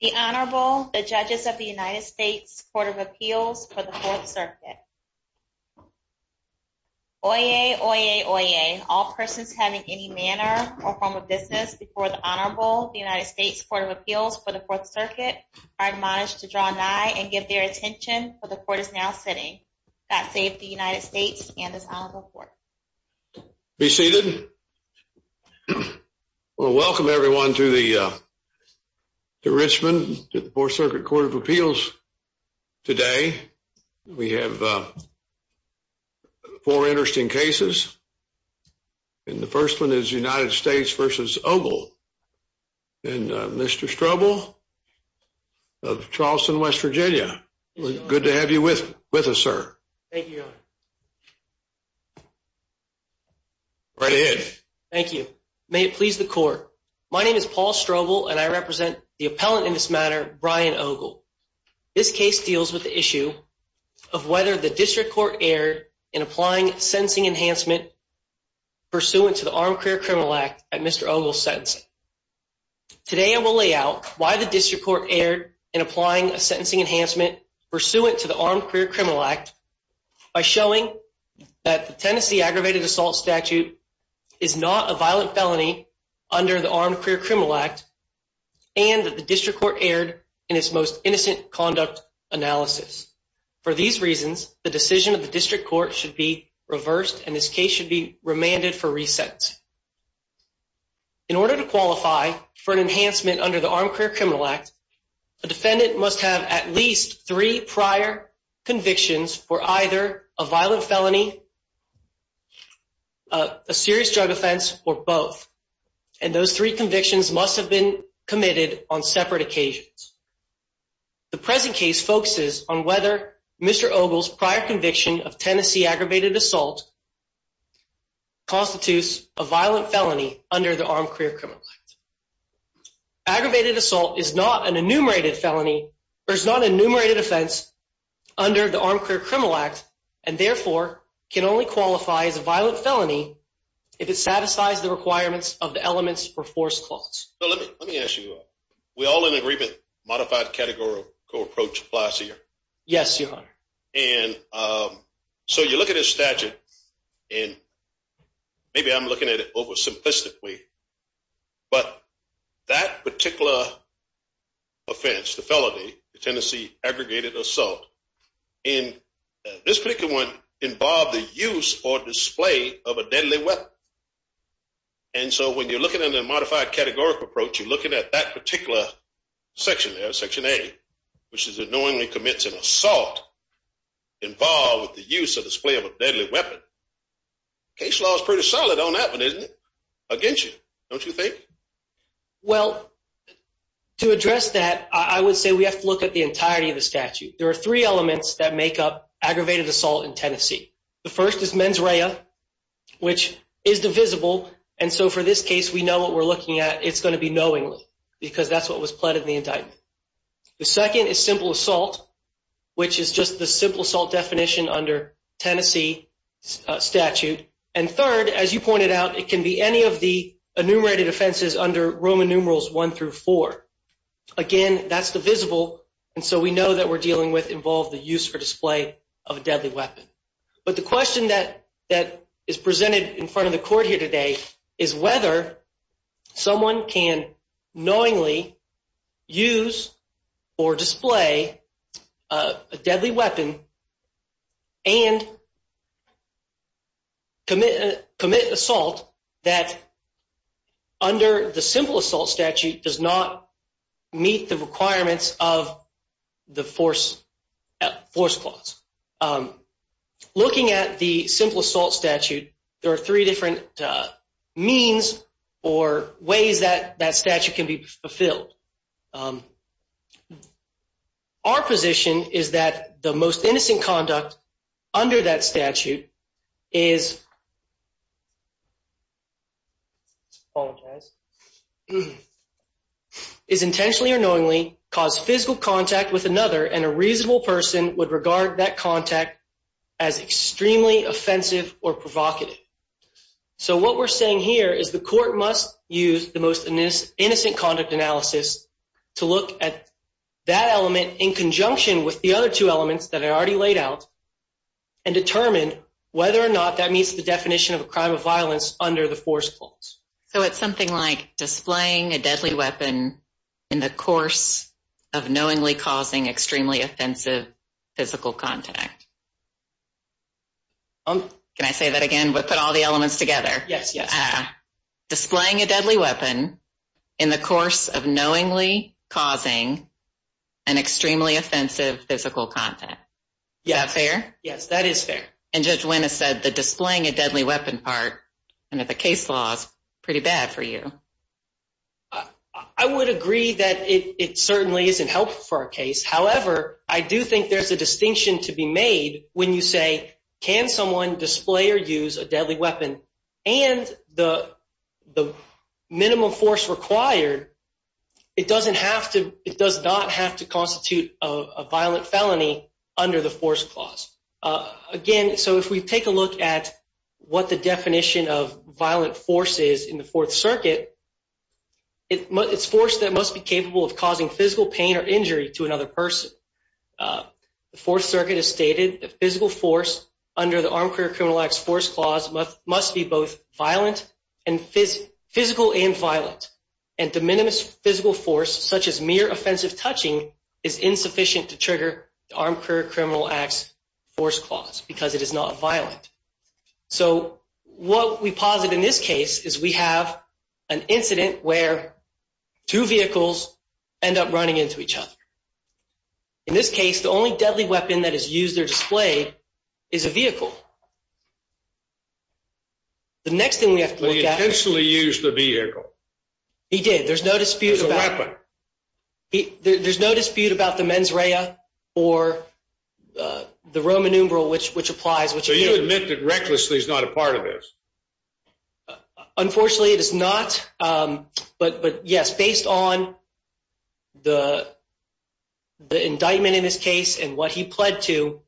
The Honorable, the Judges of the United States Court of Appeals for the Fourth Circuit. Oyez, oyez, oyez. All persons having any manner or form of business before the Honorable, the United States Court of Appeals for the Fourth Circuit are admonished to draw nigh and give their attention for the court is now sitting. God save the United States and His Honorable Court. Be seated. Well, welcome, everyone, to the Richmond Fourth Circuit Court of Appeals. Today, we have four interesting cases. And the first one is United States v. Ogle. And Mr. Strobel of Charleston, West Virginia, good to have you with us, sir. Thank you, Your Honor. Right ahead. Thank you. May it please the court. My name is Paul Strobel, and I represent the appellant in this matter, Bryan Ogle. This case deals with the issue of whether the district court erred in applying sentencing enhancement pursuant to the Armed Career Criminal Act at Mr. Ogle's sentencing. Today, I will lay out why the district court erred in applying a sentencing enhancement pursuant to the Armed Career Criminal Act by showing that the Tennessee Aggravated Assault Statute is not a violent felony under the Armed Career Criminal Act and that the district court erred in its most innocent conduct analysis. For these reasons, the decision of the district court should be reversed, and this case should be remanded for reset. In order to qualify for an enhancement under the Armed Career Criminal Act, a defendant must have at least three prior convictions for either a violent felony, a serious drug offense, or both, and those three convictions must have been committed on separate occasions. The present case focuses on whether Mr. Ogle's prior conviction of Tennessee aggravated assault constitutes a violent felony under the Armed Career Criminal Act. Aggravated assault is not an enumerated felony or is not an enumerated offense under the Armed Career Criminal Act and, therefore, can only qualify as a violent felony if it satisfies the requirements of the elements for force clause. Let me ask you, are we all in agreement modified categorical approach applies here? Yes, Your Honor. And so you look at his statute, and maybe I'm looking at it oversimplistically, but that particular offense, the felony, the Tennessee aggregated assault, and this particular one involved the use or display of a deadly weapon, and so when you're looking at a modified categorical approach, you're looking at that particular section there, section A, which is annoyingly commits an assault involved with the use or display of a deadly weapon. Case law is pretty solid on that one, isn't it? Against you, don't you think? Well, to address that, I would say we have to look at the entirety of the statute. There are three elements that make up aggravated assault in Tennessee. The first is mens rea, which is divisible, and so for this case, we know what we're looking at. It's going to be knowingly because that's what was pled in the indictment. The second is simple assault, which is just the simple assault definition under Tennessee statute. And third, as you pointed out, it can be any of the enumerated offenses under Roman numerals one through four. Again, that's divisible, and so we know that we're dealing with involved the use or display of a deadly weapon. But the question that is presented in front of the court here today is whether someone can knowingly use or display a deadly weapon and commit assault that under the simple assault statute does not meet the requirements of the force clause. Looking at the simple assault statute, there are three different means or ways that that statute can be fulfilled. Our position is that the most innocent conduct under that statute is intentionally or knowingly caused physical contact with another, and a reasonable person would regard that contact as extremely offensive or provocative. So what we're saying here is the court must use the most innocent conduct analysis to look at that element in conjunction with the other two elements that I already laid out, and determine whether or not that meets the definition of a crime of violence under the force clause. So it's something like displaying a deadly weapon in the course of knowingly causing extremely offensive physical contact. Can I say that again? We put all the elements together. Yes, yes. Displaying a deadly weapon in the course of knowingly causing an extremely offensive physical contact. Is that fair? Yes, that is fair. And Judge Winn has said the displaying a deadly weapon part under the case law is pretty bad for you. I would agree that it certainly isn't helpful for a case. However, I do think there's a distinction to be made when you say, can someone display or use a deadly weapon? And the minimum force required, it does not have to constitute a violent felony under the force clause. Again, so if we take a look at what the definition of violent force is in the Fourth Circuit, it's force that must be capable of causing physical pain or injury to another person. The Fourth Circuit has stated that physical force under the Armed Career Criminal Act's force clause must be both physical and violent. And the minimum physical force, such as mere offensive touching, is insufficient to trigger the Armed Career Criminal Act's force clause because it is not violent. So what we posit in this case is we have an incident where two vehicles end up running into each other. In this case, the only deadly weapon that is used or displayed is a vehicle. The next thing we have to look at is. But he intentionally used the vehicle. He did. There's no dispute about it. It was a weapon. There's no dispute about the mens rea or the Roman numeral, which applies, which he did. So you admit that recklessly is not a part of this? Unfortunately, it is not. But yes, based on the indictment in this case and what he pled to,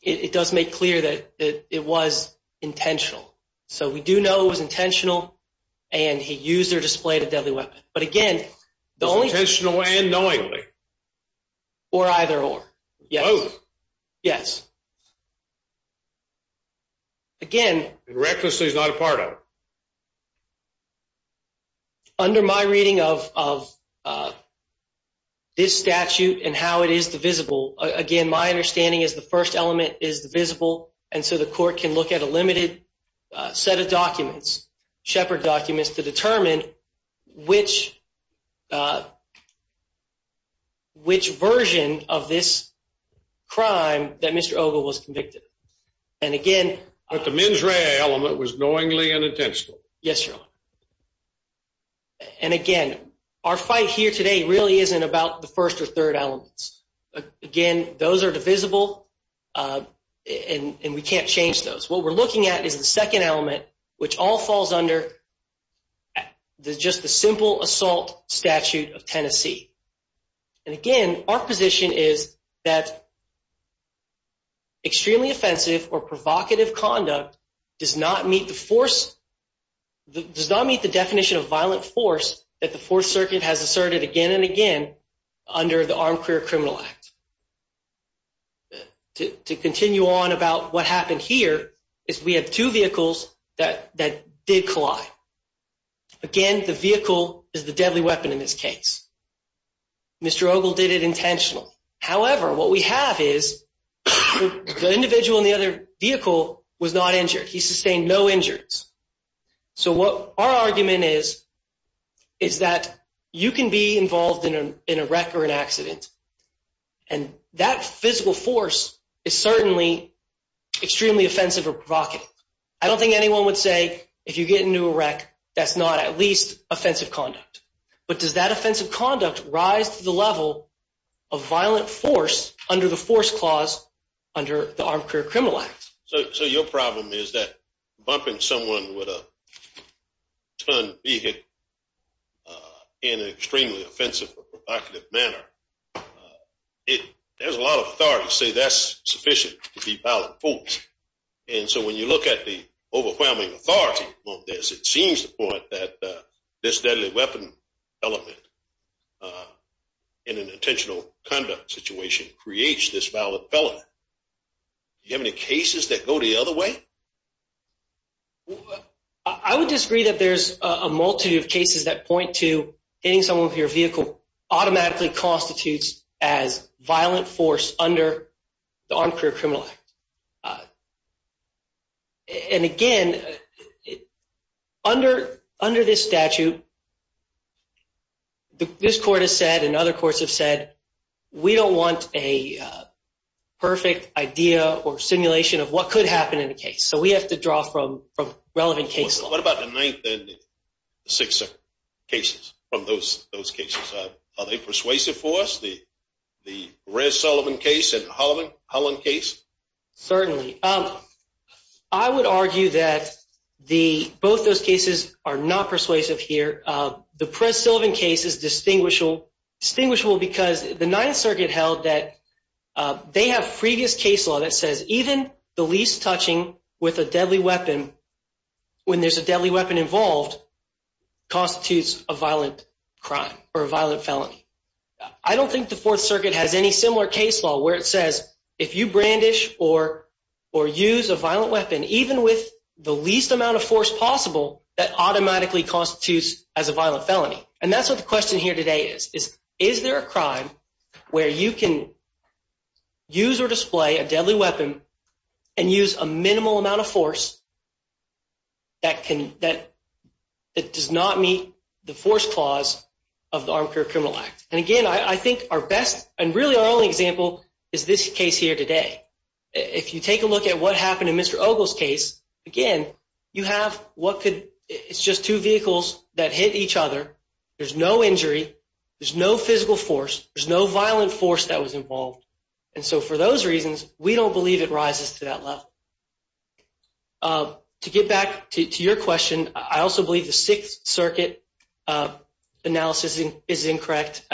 it does make clear that it was intentional. So we do know it was intentional. And he used or displayed a deadly weapon. But again, the only thing is intentional and knowingly. Or either or. Yes. Yes. Again. Recklessly is not a part of it. Under my reading of this statute and how it is divisible, again, my understanding is the first element is divisible. And so the court can look at a limited set of documents, shepherd documents, to determine which version of this crime that Mr. Ogle was convicted. And again. But the mens rea element was knowingly and intentional. Yes, Your Honor. And again, our fight here today really isn't about the first or third elements. Again, those are divisible. And we can't change those. What we're looking at is the second element, which all falls under just the simple assault statute of Tennessee. And again, our position is that extremely offensive or provocative conduct does not meet the definition of violent force that the Fourth Circuit has asserted again and again under the Armed Career Criminal Act. To continue on about what happened here is we have two vehicles that did collide. Again, the vehicle is the deadly weapon in this case. Mr. Ogle did it intentionally. However, what we have is the individual in the other vehicle was not injured. He sustained no injuries. So our argument is that you can be involved in a wreck or an accident. And that physical force is certainly extremely offensive or provocative. I don't think anyone would say, if you get into a wreck, that's not at least offensive conduct. But does that offensive conduct rise to the level of violent force under the force clause under the Armed Career Criminal Act? So your problem is that bumping someone with a ton of vehicle in an extremely offensive or provocative manner, there's a lot of authorities say that's sufficient to be violent force. And so when you look at the overwhelming authority on this, it seems to point that this deadly weapon element in an intentional conduct situation creates this violent element. Do you have any cases that go the other way? I would disagree that there's a multitude of cases that point to hitting someone with your vehicle automatically constitutes as violent force under the Armed Career Criminal Act. And again, under this statute, this court has said and other courts have said, we don't want a perfect idea or simulation of what could happen in the case. So we have to draw from relevant case law. What about the ninth and sixth cases from those cases? Are they persuasive for us, the Rez Sullivan case and Holland case? Certainly. I would argue that both those cases are not persuasive here. The Prez Sullivan case is distinguishable because the Ninth Circuit held that they have previous case law that says even the least touching with a deadly weapon when there's a deadly weapon involved constitutes a violent crime or a violent felony. I don't think the Fourth Circuit has any similar case law where it says if you brandish or use a violent weapon, even with the least amount of force possible, that automatically constitutes as a violent felony. And that's what the question here today is. Is there a crime where you can use or display a deadly weapon and use a minimal amount of force that does not meet the force clause of the Armed Career Criminal Act? And again, I think our best and really our only example is this case here today. If you take a look at what happened in Mr. Ogle's case, again, you have what could, it's just two vehicles that hit each other. There's no injury. There's no physical force. There's no violent force that was involved. And so for those reasons, we don't believe it rises to that level. To get back to your question, I also believe the Sixth Circuit analysis is incorrect.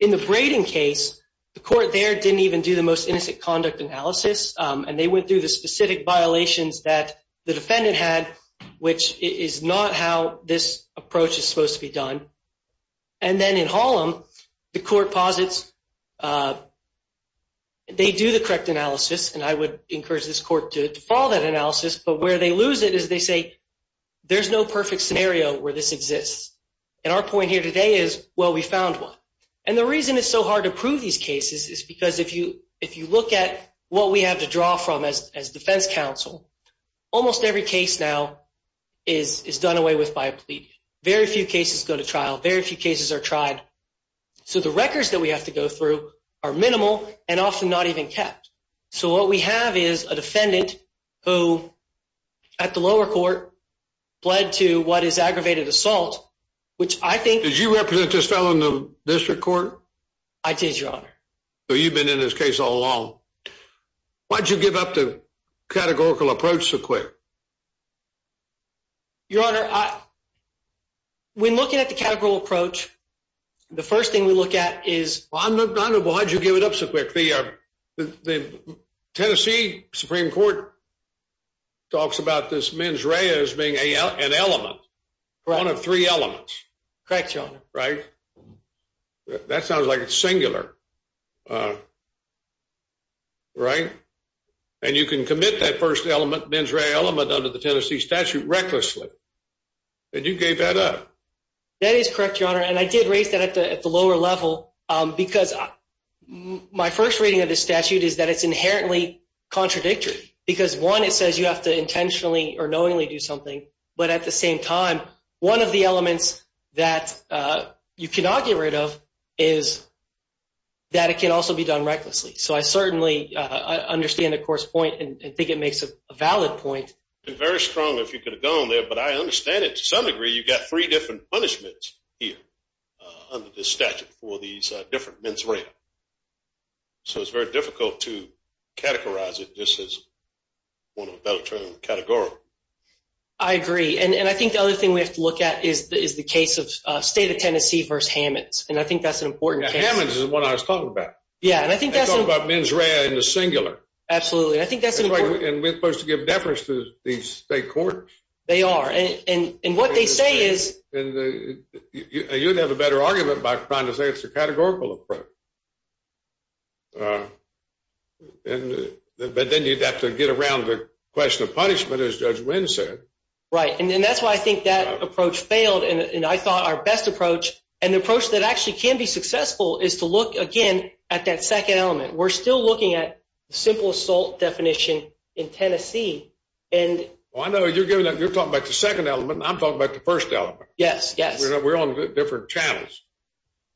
In the braiding case, the court there didn't even do the most innocent conduct analysis. And they went through the specific violations that the defendant had, which is not how this approach is supposed to be done. And then in Hollum, the court posits they do the correct analysis. And I would encourage this court to follow that analysis. But where they lose it is they say, there's no perfect scenario where this exists. And our point here today is, well, we found one. And the reason it's so hard to prove these cases is because if you look at what we have to draw from as defense counsel, almost every case now is done away with by a plea. Very few cases go to trial. Very few cases are tried. So the records that we have to go through are minimal and often not even kept. So what we have is a defendant who, at the lower court, pled to what is aggravated assault, which I think is Did you represent this fellow in the district court? I did, Your Honor. So you've been in this case all along. Why'd you give up the categorical approach so quick? Your Honor, when looking at the categorical approach, the first thing we look at is, Well, I don't know. Well, how'd you give it up so quick? The Tennessee Supreme Court talks about this mens rea as being an element, one of three elements. Correct, Your Honor. Right? That sounds like it's singular. Right? And you can commit that first element, mens rea element, under the Tennessee statute recklessly. And you gave that up. That is correct, Your Honor. And I did raise that at the lower level because my first reading of the statute is that it's inherently contradictory. Because one, it says you have to intentionally or knowingly do something. But at the same time, one of the elements that you cannot get rid of is that it can also be done recklessly. So I certainly understand the court's point and think it makes a valid point. And very strongly, if you could have gone there. But I understand it to some degree, you've got three different punishments here under the statute for these different mens rea. So it's very difficult to categorize it just as one of the bellicose categorical. I agree. And I think the other thing we have to look at is the case of State of Tennessee versus Hammonds. And I think that's an important case. Yeah, Hammonds is what I was talking about. Yeah, and I think that's an important case. They talk about mens rea in the singular. Absolutely. And we're supposed to give deference to these state courts. They are. And what they say is. You'd have a better argument by trying to say it's a categorical approach. But then you'd have to get around the question of punishment, as Judge Wynn said. Right, and that's why I think that approach failed. And I thought our best approach, and the approach that actually can be successful, is to look, again, at that second element. We're still looking at the simple assault definition in Tennessee. Well, I know you're talking about the second element, and I'm talking about the first element. Yes, yes. We're on different channels.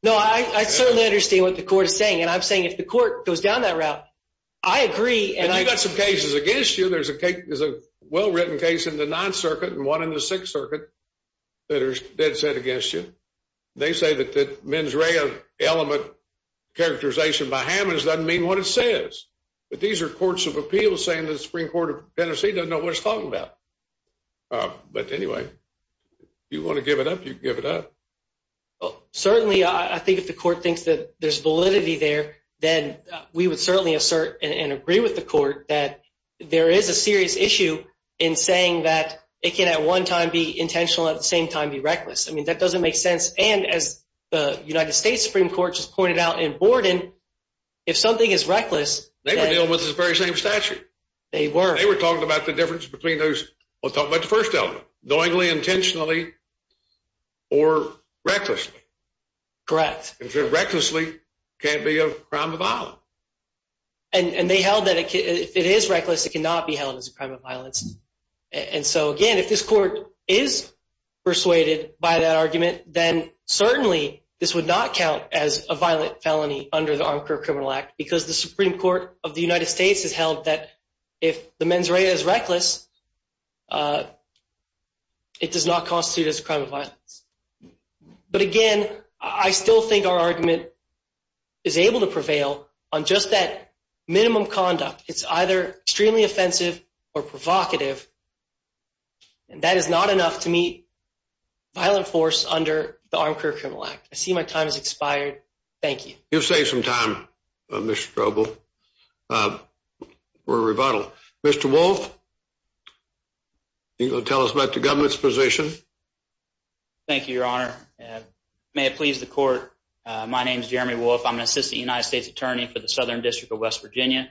No, I certainly understand what the court is saying. And I'm saying if the court goes down that route, I agree. And you've got some cases against you. There's a well-written case in the Ninth Circuit and one in the Sixth Circuit that are dead set against you. They say that the mens rea element characterization by Hammonds doesn't mean what it says. But these are courts of appeals saying the Supreme Court of Tennessee doesn't know what it's talking about. But anyway, if you want to give it up, you can give it up. Certainly, I think if the court thinks that there's validity there, then we would certainly assert and agree with the court that there is a serious issue in saying that it can, at one time, be intentional, at the same time, be reckless. I mean, that doesn't make sense. And as the United States Supreme Court just pointed out in Borden, if something is reckless, then They were dealing with the very same statute. They were. They were talking about the difference between those what's talked about the first element, knowingly, intentionally, or recklessly. Correct. If it's recklessly, it can't be a crime of violence. And they held that if it is reckless, it cannot be held as a crime of violence. And so again, if this court is persuaded by that argument, then certainly, this would not count as a violent felony under the Armed Career Criminal Act, because the Supreme Court of the United States has held that if the mens rea is reckless, it does not constitute as a crime of violence. But again, I still think our argument is able to prevail on just that minimum conduct. It's either extremely offensive or provocative. And that is not enough to meet violent force under the Armed Career Criminal Act. I see my time has expired. Thank you. You've saved some time, Mr. Strobel, for a rebuttal. Mr. Wolfe, are you going to tell us about the government's position? Thank you, Your Honor. May it please the court, my name is Jeremy Wolfe. I'm an assistant United States attorney for the Southern District of West Virginia.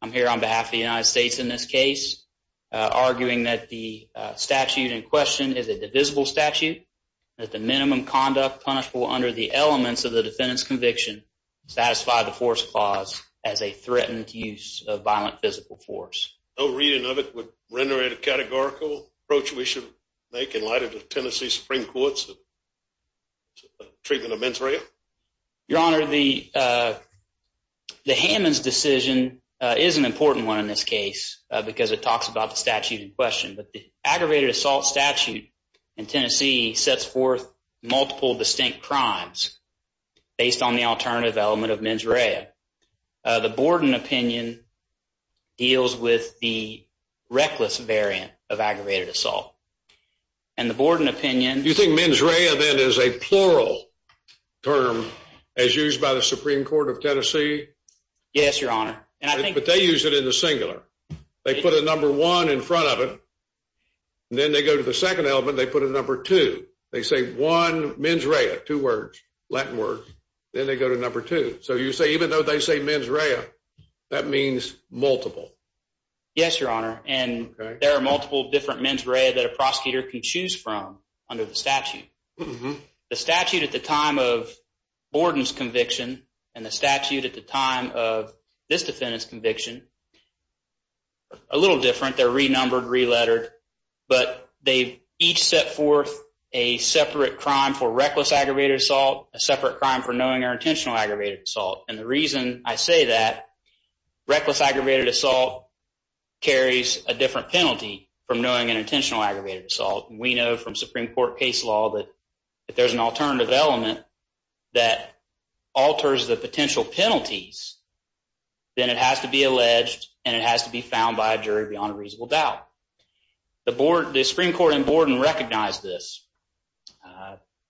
I'm here on behalf of the United States in this case, arguing that the statute in question is a divisible statute, that the minimum conduct punishable under the elements of the defendant's conviction satisfy the force clause as a threatened use of violent physical force. No reading of it would render it a categorical approach we should make in light of the Tennessee Supreme Court's treatment of mens rea? Your Honor, the Hammons decision is an important one in this case, because it talks about the statute in question. But the aggravated assault statute in Tennessee sets forth multiple distinct crimes based on the alternative element of mens rea. The Borden opinion deals with the reckless variant of aggravated assault. And the Borden opinion- Do you think mens rea, then, is a plural term as used by the Supreme Court of Tennessee? Yes, Your Honor. But they use it in the singular. They put a number one in front of it. Then they go to the second element, they put a number two. They say one mens rea, two words, Latin words. Then they go to number two. So you say, even though they say mens rea, that means multiple. Yes, Your Honor. And there are multiple different mens rea that a prosecutor can choose from under the statute. The statute at the time of Borden's conviction and the statute at the time of this defendant's conviction are a little different. They're re-numbered, re-lettered. But they each set forth a separate crime for reckless aggravated assault, a separate crime for knowing or intentional aggravated assault. And the reason I say that, reckless aggravated assault carries a different penalty from knowing an intentional aggravated assault. We know from Supreme Court case law that if there's an alternative element that alters the potential penalties, then it has to be alleged and it has to be found by a jury beyond a reasonable doubt. The Supreme Court in Borden recognized this.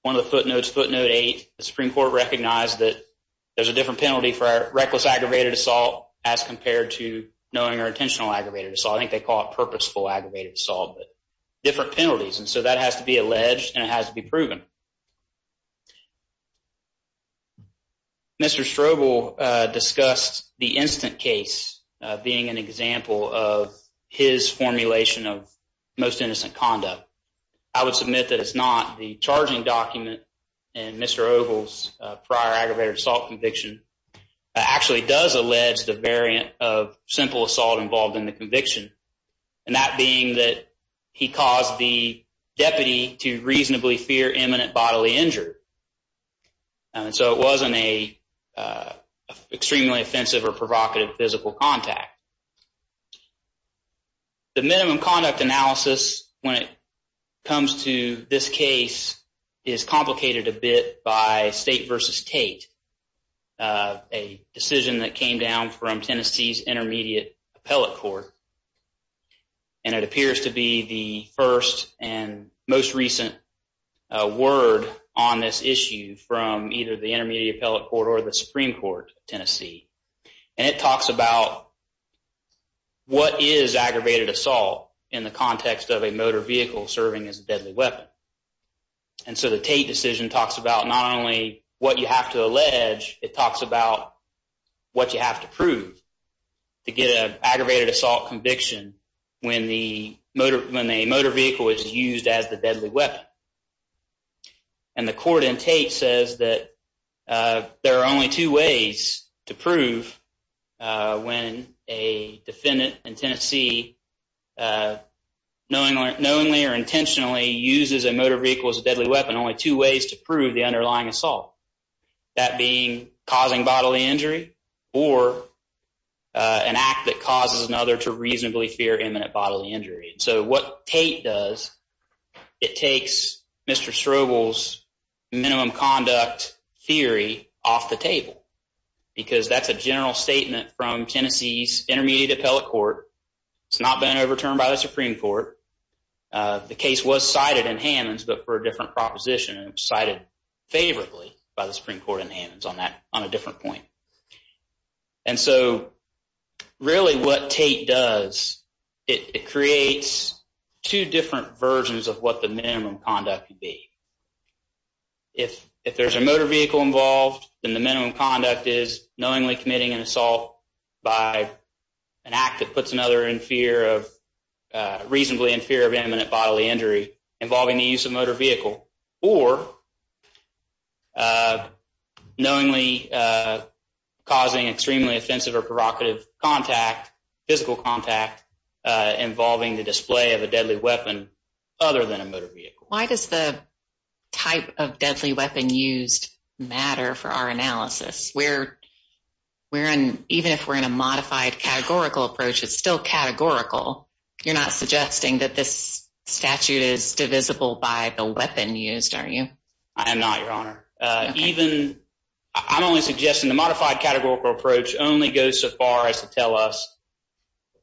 One of the footnotes, footnote eight, the Supreme Court recognized that there's a different penalty for reckless aggravated assault as compared to knowing or intentional aggravated assault. I think they call it purposeful aggravated assault, but different penalties. And so that has to be alleged and it has to be proven. Mr. Strobel discussed the instant case being an example of his formulation of most innocent conduct. I would submit that it's not. The charging document in Mr. Oval's prior aggravated assault conviction actually does allege the variant of simple assault involved in the conviction. And that being that he caused the deputy to reasonably fear imminent bodily injury. And so it wasn't a extremely offensive or provocative physical contact. The minimum conduct analysis when it comes to this case is complicated a bit by State versus Tate, a decision that came down from Tennessee's Intermediate Appellate Court. And it appears to be the first and most recent word on this issue from either the Intermediate Appellate Court or the Supreme Court of Tennessee. And it talks about what is aggravated assault in the context of a motor vehicle serving as a deadly weapon. And so the Tate decision talks about not only what you have to allege, it talks about what you have to prove to get an aggravated assault conviction when a motor vehicle is used as the deadly weapon. And the court in Tate says that there are only two ways to prove when a defendant in Tennessee knowingly or intentionally uses a motor vehicle as a deadly weapon, only two ways to prove the underlying assault. That being causing bodily injury or an act that causes another to reasonably fear imminent bodily injury. So what Tate does, it takes Mr. Strobel's minimum conduct theory off the table, because that's a general statement from Tennessee's Intermediate Appellate Court. It's not been overturned by the Supreme Court. The case was cited in Hammonds, but for a different proposition, cited favorably by the Supreme Court in Hammonds on a different point. And so really what Tate does, it creates two different versions of what the minimum conduct could be. If there's a motor vehicle involved, then the minimum conduct is knowingly committing an assault by an act that puts another in fear of, reasonably in fear of imminent bodily injury involving the use of motor vehicle, or knowingly causing extremely offensive or provocative contact, physical contact, involving the display of a deadly weapon other than a motor vehicle. Why does the type of deadly weapon used matter for our analysis? Even if we're in a modified categorical approach, it's still categorical. You're not suggesting that this statute is divisible by the weapon used, are you? I am not, Your Honor. Even, I'm only suggesting the modified categorical approach only goes so far as to tell us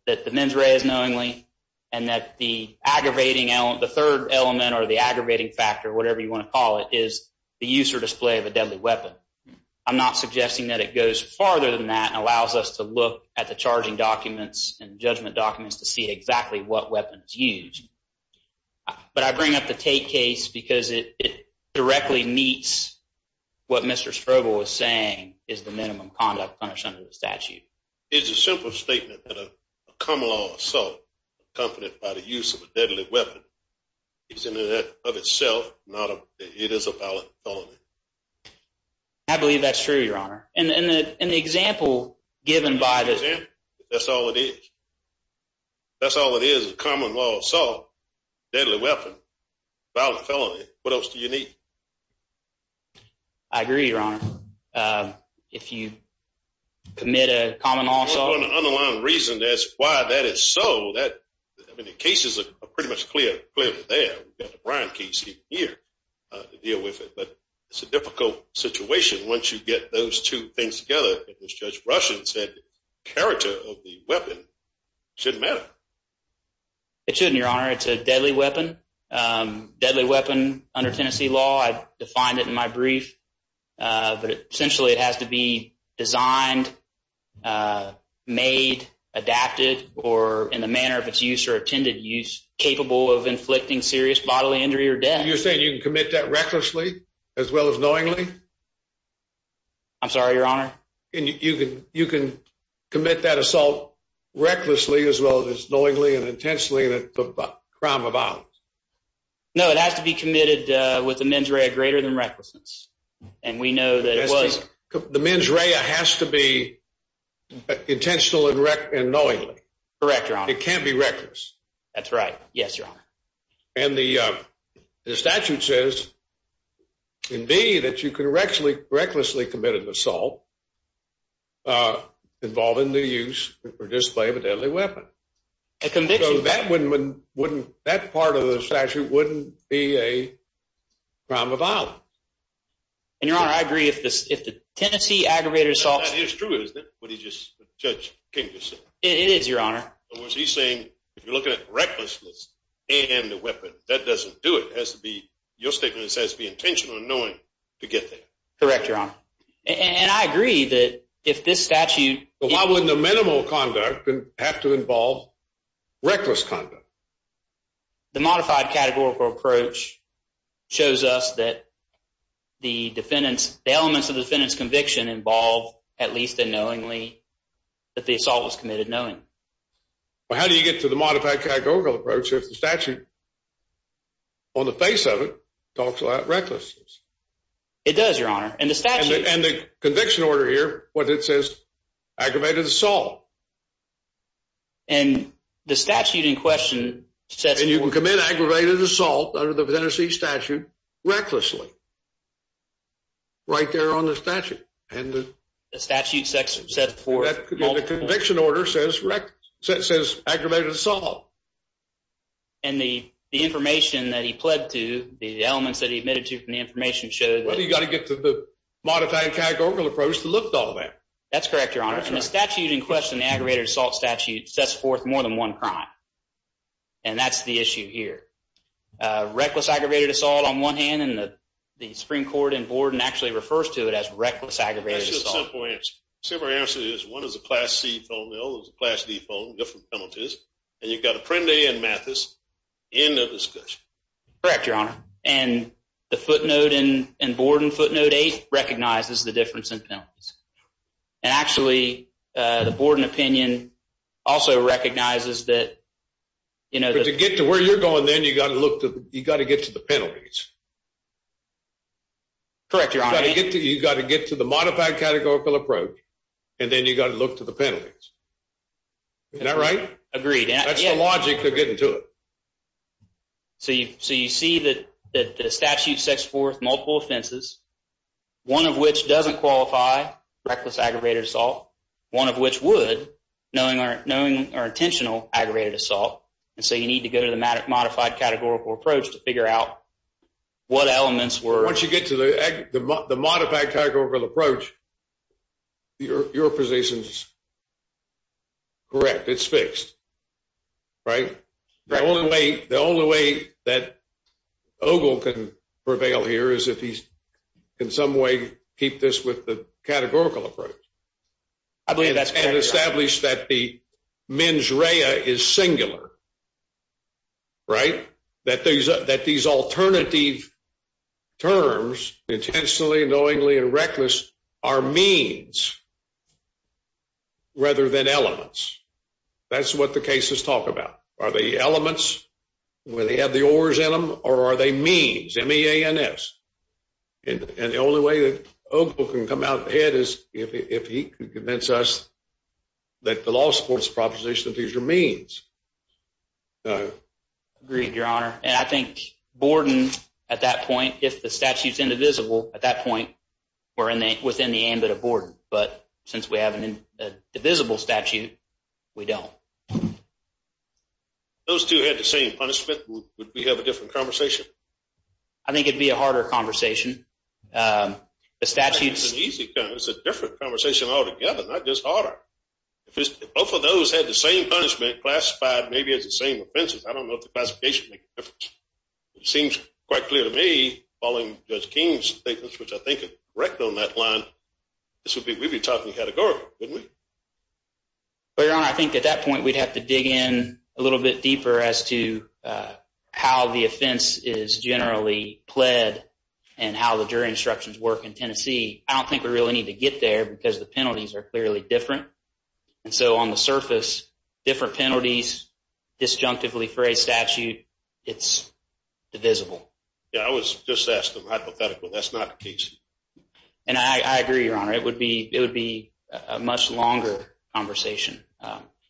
that the mens rea is knowingly, and that the aggravating element, the third element or the aggravating factor, whatever you want to call it, is the use or display of a deadly weapon. I'm not suggesting that it goes farther than that and allows us to look at the charging documents and judgment documents to see exactly what weapon is used. But I bring up the Tate case because it directly meets what Mr. Strobel was saying, is the minimum conduct punished under the statute. It's a simple statement that a common law assault accompanied by the use of a deadly weapon is in and of itself, it is a violent felony. I believe that's true, Your Honor. And the example given by the- The example, that's all it is. That's all it is, a common law assault, deadly weapon, violent felony. What else do you need? I agree, Your Honor. If you commit a common law assault- For an unaligned reason, that's why that is so. I mean, the cases are pretty much clear there. We've got the Bryant case here to deal with it. But it's a difficult situation once you get those two things together. As Judge Rushin said, character of the weapon shouldn't matter. It shouldn't, Your Honor. It's a deadly weapon, deadly weapon under Tennessee law. I defined it in my brief, but essentially it has to be designed, made, adapted, or in the manner of its use or intended use, capable of inflicting serious bodily injury or death. You're saying you can commit that recklessly as well as knowingly? I'm sorry, Your Honor? And you can commit that assault recklessly as well as knowingly and intensely and at the crime of violence? No, it has to be committed with a mens rea greater than recklessness. And we know that it was- The mens rea has to be intentional and knowingly. Correct, Your Honor. It can't be reckless. That's right. Yes, Your Honor. And the statute says in B that you can recklessly commit an assault involving the use or display of a deadly weapon. A conviction- So that part of the statute wouldn't be a crime of violence. And Your Honor, I agree. If the Tennessee aggravated assault- That is true, isn't it? What Judge King just said. It is, Your Honor. In other words, he's saying, if you're looking at recklessness and a weapon, that doesn't do it. It has to be, your statement says it has to be intentional and knowing to get there. Correct, Your Honor. And I agree that if this statute- Well, why wouldn't the minimal conduct have to involve reckless conduct? The modified categorical approach shows us that the defendants, the elements of the defendant's conviction involve at least a knowingly that the assault was committed knowing. Well, how do you get to the modified categorical approach if the statute on the face of it talks about recklessness? It does, Your Honor. And the statute- And the conviction order here, what it says, aggravated assault. And the statute in question says- And you can commit aggravated assault under the Tennessee statute recklessly, right there on the statute. And the- The statute said for- Well, the conviction order says aggravated assault. And the information that he pled to, the elements that he admitted to from the information showed that- Well, you gotta get to the modified categorical approach to look at all that. That's correct, Your Honor. And the statute in question, the aggravated assault statute, sets forth more than one crime. And that's the issue here. Reckless aggravated assault on one hand, and the Supreme Court in Borden actually refers to it as reckless aggravated assault. That's just a simple answer. Simple answer is one is a Class C phone, the other is a Class D phone, different penalties. And you've got Apprendi and Mathis in the discussion. Correct, Your Honor. And the footnote in Borden footnote eight recognizes the difference in penalties. And actually, the Borden opinion also recognizes that- But to get to where you're going, then you gotta look to, you gotta get to the penalties. Correct, Your Honor. You gotta get to the modified categorical approach, and then you gotta look to the penalties. Isn't that right? Agreed. That's the logic of getting to it. So you see that the statute sets forth multiple offenses, one of which doesn't qualify reckless aggravated assault, one of which would, knowing our intentional aggravated assault. And so you need to go to the modified categorical approach to figure out what elements were- Once you get to the modified categorical approach, your position's correct. It's fixed, right? The only way that Ogle can prevail here is if he's in some way keep this with the categorical approach. I believe that's correct, Your Honor. And establish that the mens rea is singular, right? That these alternative terms, intentionally, knowingly, and reckless, are means rather than elements. That's what the cases talk about. Are they elements where they have the ors in them, or are they means, M-E-A-N-S? And the only way that Ogle can come out ahead is if he can convince us that the law supports the proposition that these are means. Agreed, Your Honor. And I think Borden, at that point, if the statute's indivisible, at that point, we're within the ambit of Borden. But since we have an indivisible statute, we don't. Those two had the same punishment. Would we have a different conversation? I think it'd be a harder conversation. The statute's- I think it's an easy conversation. It's a different conversation altogether, not just harder. If both of those had the same punishment, classified maybe as the same offenses, I don't know if the classification would make a difference. It seems quite clear to me, following Judge King's statements, which I think are correct on that line, this would be, we'd be talking categorical, wouldn't we? Well, Your Honor, I think at that point, we'd have to dig in a little bit deeper as to how the offense is generally pled and how the jury instructions work in Tennessee. I don't think we really need to get there because the penalties are clearly different. And so, on the surface, different penalties, disjunctively phrased statute, it's divisible. Yeah, I was just asking a hypothetical. That's not the case. And I agree, Your Honor. It would be a much longer conversation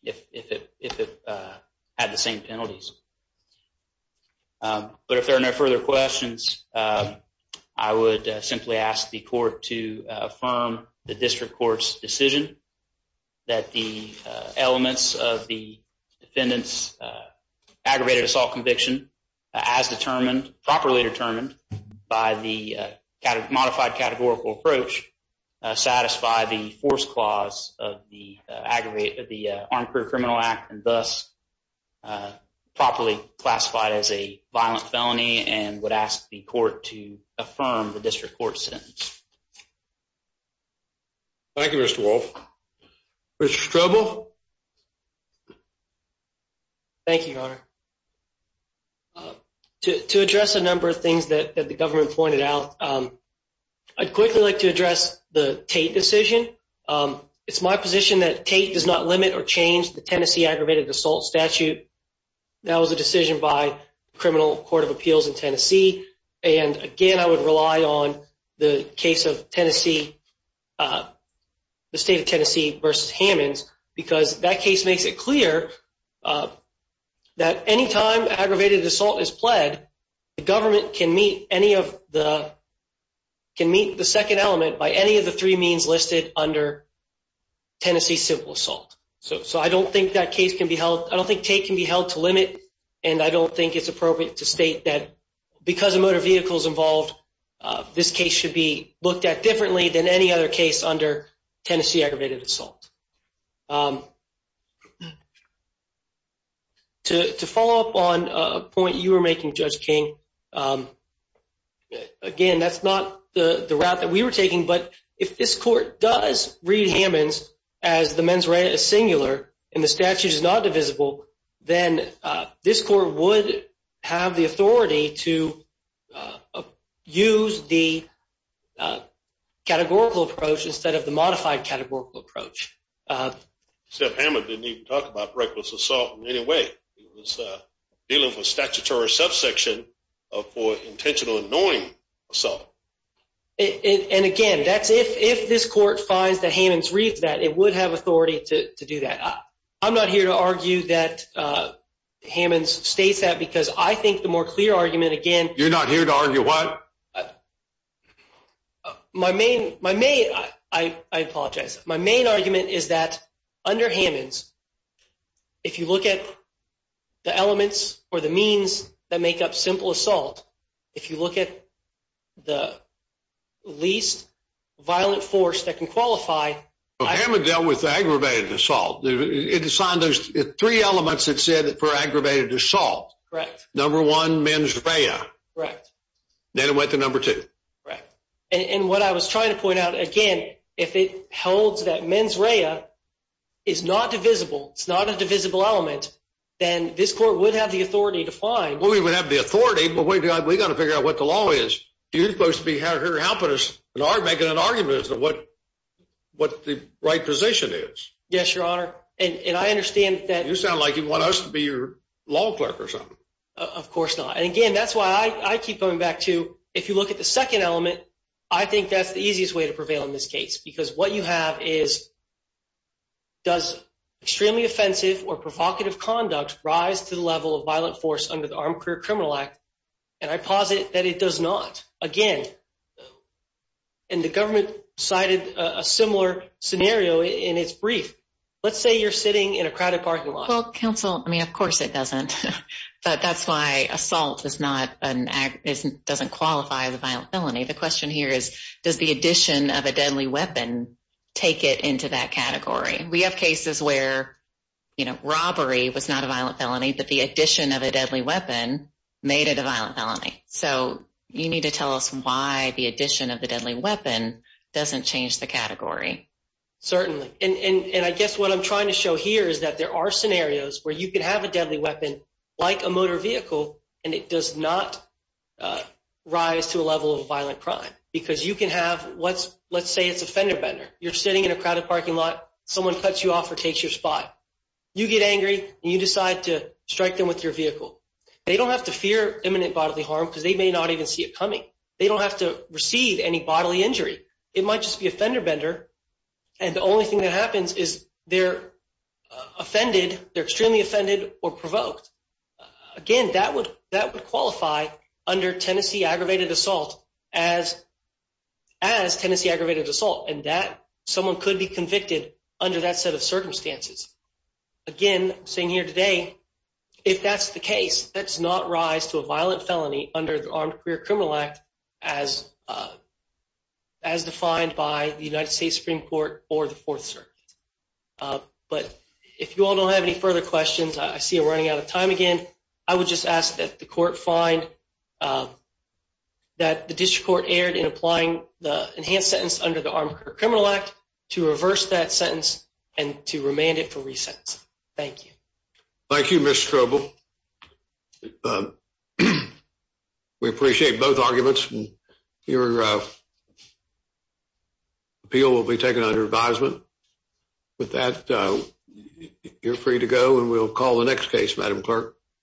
if it had the same penalties. But if there are no further questions, I would simply ask the court to affirm the district court's decision that the elements of the defendant's aggravated assault conviction, as determined, properly determined, by the modified categorical approach, satisfy the force clause of the Armed Criminal Act and thus properly classified as a violent felony and would ask the court to affirm the district court's sentence. Thank you, Mr. Wolf. Mr. Strobel? Thank you, Your Honor. To address a number of things that the government pointed out, I'd quickly like to address the Tate decision. It's my position that Tate does not limit or change the Tennessee aggravated assault statute. That was a decision by Criminal Court of Appeals in Tennessee. And again, I would rely on the case of Tennessee, the state of Tennessee versus Hammonds, because that case makes it clear that any time aggravated assault is pled, the government can meet the second element by any of the three means listed under Tennessee civil assault. So I don't think that case can be held, I don't think Tate can be held to limit, and I don't think it's appropriate to state that because of motor vehicles involved, this case should be looked at differently than any other case under Tennessee aggravated assault. To follow up on a point you were making, Judge King, again, that's not the route that we were taking, but if this court does read Hammonds as the mens rea singular, and the statute is not divisible, then this court would have the authority to use the categorical approach instead of the modified categorical approach. Except Hammond didn't even talk about reckless assault in any way. He was dealing with statutory subsection for intentional annoying assault. And again, that's if this court finds that Hammonds reads that, it would have authority to do that. I'm not here to argue that Hammonds states that because I think the more clear argument, again- You're not here to argue what? My main, I apologize. My main argument is that under Hammonds, if you look at the elements or the means that make up simple assault, if you look at the least violent force that can qualify- Well, Hammond dealt with aggravated assault. It assigned those three elements that said for aggravated assault. Correct. Number one, mens rea. Correct. Then it went to number two. Correct. And what I was trying to point out, again, if it holds that mens rea is not divisible, it's not a divisible element, then this court would have the authority to find- Well, we would have the authority, but we gotta figure out what the law is. You're supposed to be out here helping us, making an argument as to what the right position is. Yes, Your Honor. And I understand that- You sound like you want us to be your law clerk or something. Of course not. And again, that's why I keep coming back to, if you look at the second element, I think that's the easiest way to prevail in this case, because what you have is, does extremely offensive or provocative conduct rise to the level of violent force under the Armed Career Criminal Act? And I posit that it does not. Again, and the government cited a similar scenario in its brief. Let's say you're sitting in a crowded parking lot. Well, counsel, I mean, of course it doesn't, but that's why assault doesn't qualify as a violent felony. The question here is, does the addition of a deadly weapon take it into that category? We have cases where robbery was not a violent felony, but the addition of a deadly weapon made it a violent felony. So you need to tell us why the addition of the deadly weapon doesn't change the category. Certainly. And I guess what I'm trying to show here is that there are scenarios where you can have a deadly weapon like a motor vehicle, and it does not rise to a level of violent crime, because you can have, let's say it's a fender bender. You're sitting in a crowded parking lot. Someone cuts you off or takes your spot. You get angry and you decide to strike them with your vehicle. They don't have to fear imminent bodily harm because they may not even see it coming. They don't have to receive any bodily injury. It might just be a fender bender. And the only thing that happens is they're offended. They're extremely offended or provoked. Again, that would qualify under Tennessee Aggravated Assault as Tennessee Aggravated Assault, and that someone could be convicted under that set of circumstances. Again, I'm saying here today, if that's the case, that does not rise to a violent felony under the Armed Career Criminal Act as defined by the United States Supreme Court or the Fourth Circuit. But if you all don't have any further questions, I see we're running out of time again. I would just ask that the court find that the district court erred in applying the enhanced sentence under the Armed Career Criminal Act to reverse that sentence and to remand it for re-sentence. Thank you. Thank you, Mr. Strobel. We appreciate both arguments. Your appeal will be taken under advisement. With that, you're free to go and we'll call the next case, Madam Clerk.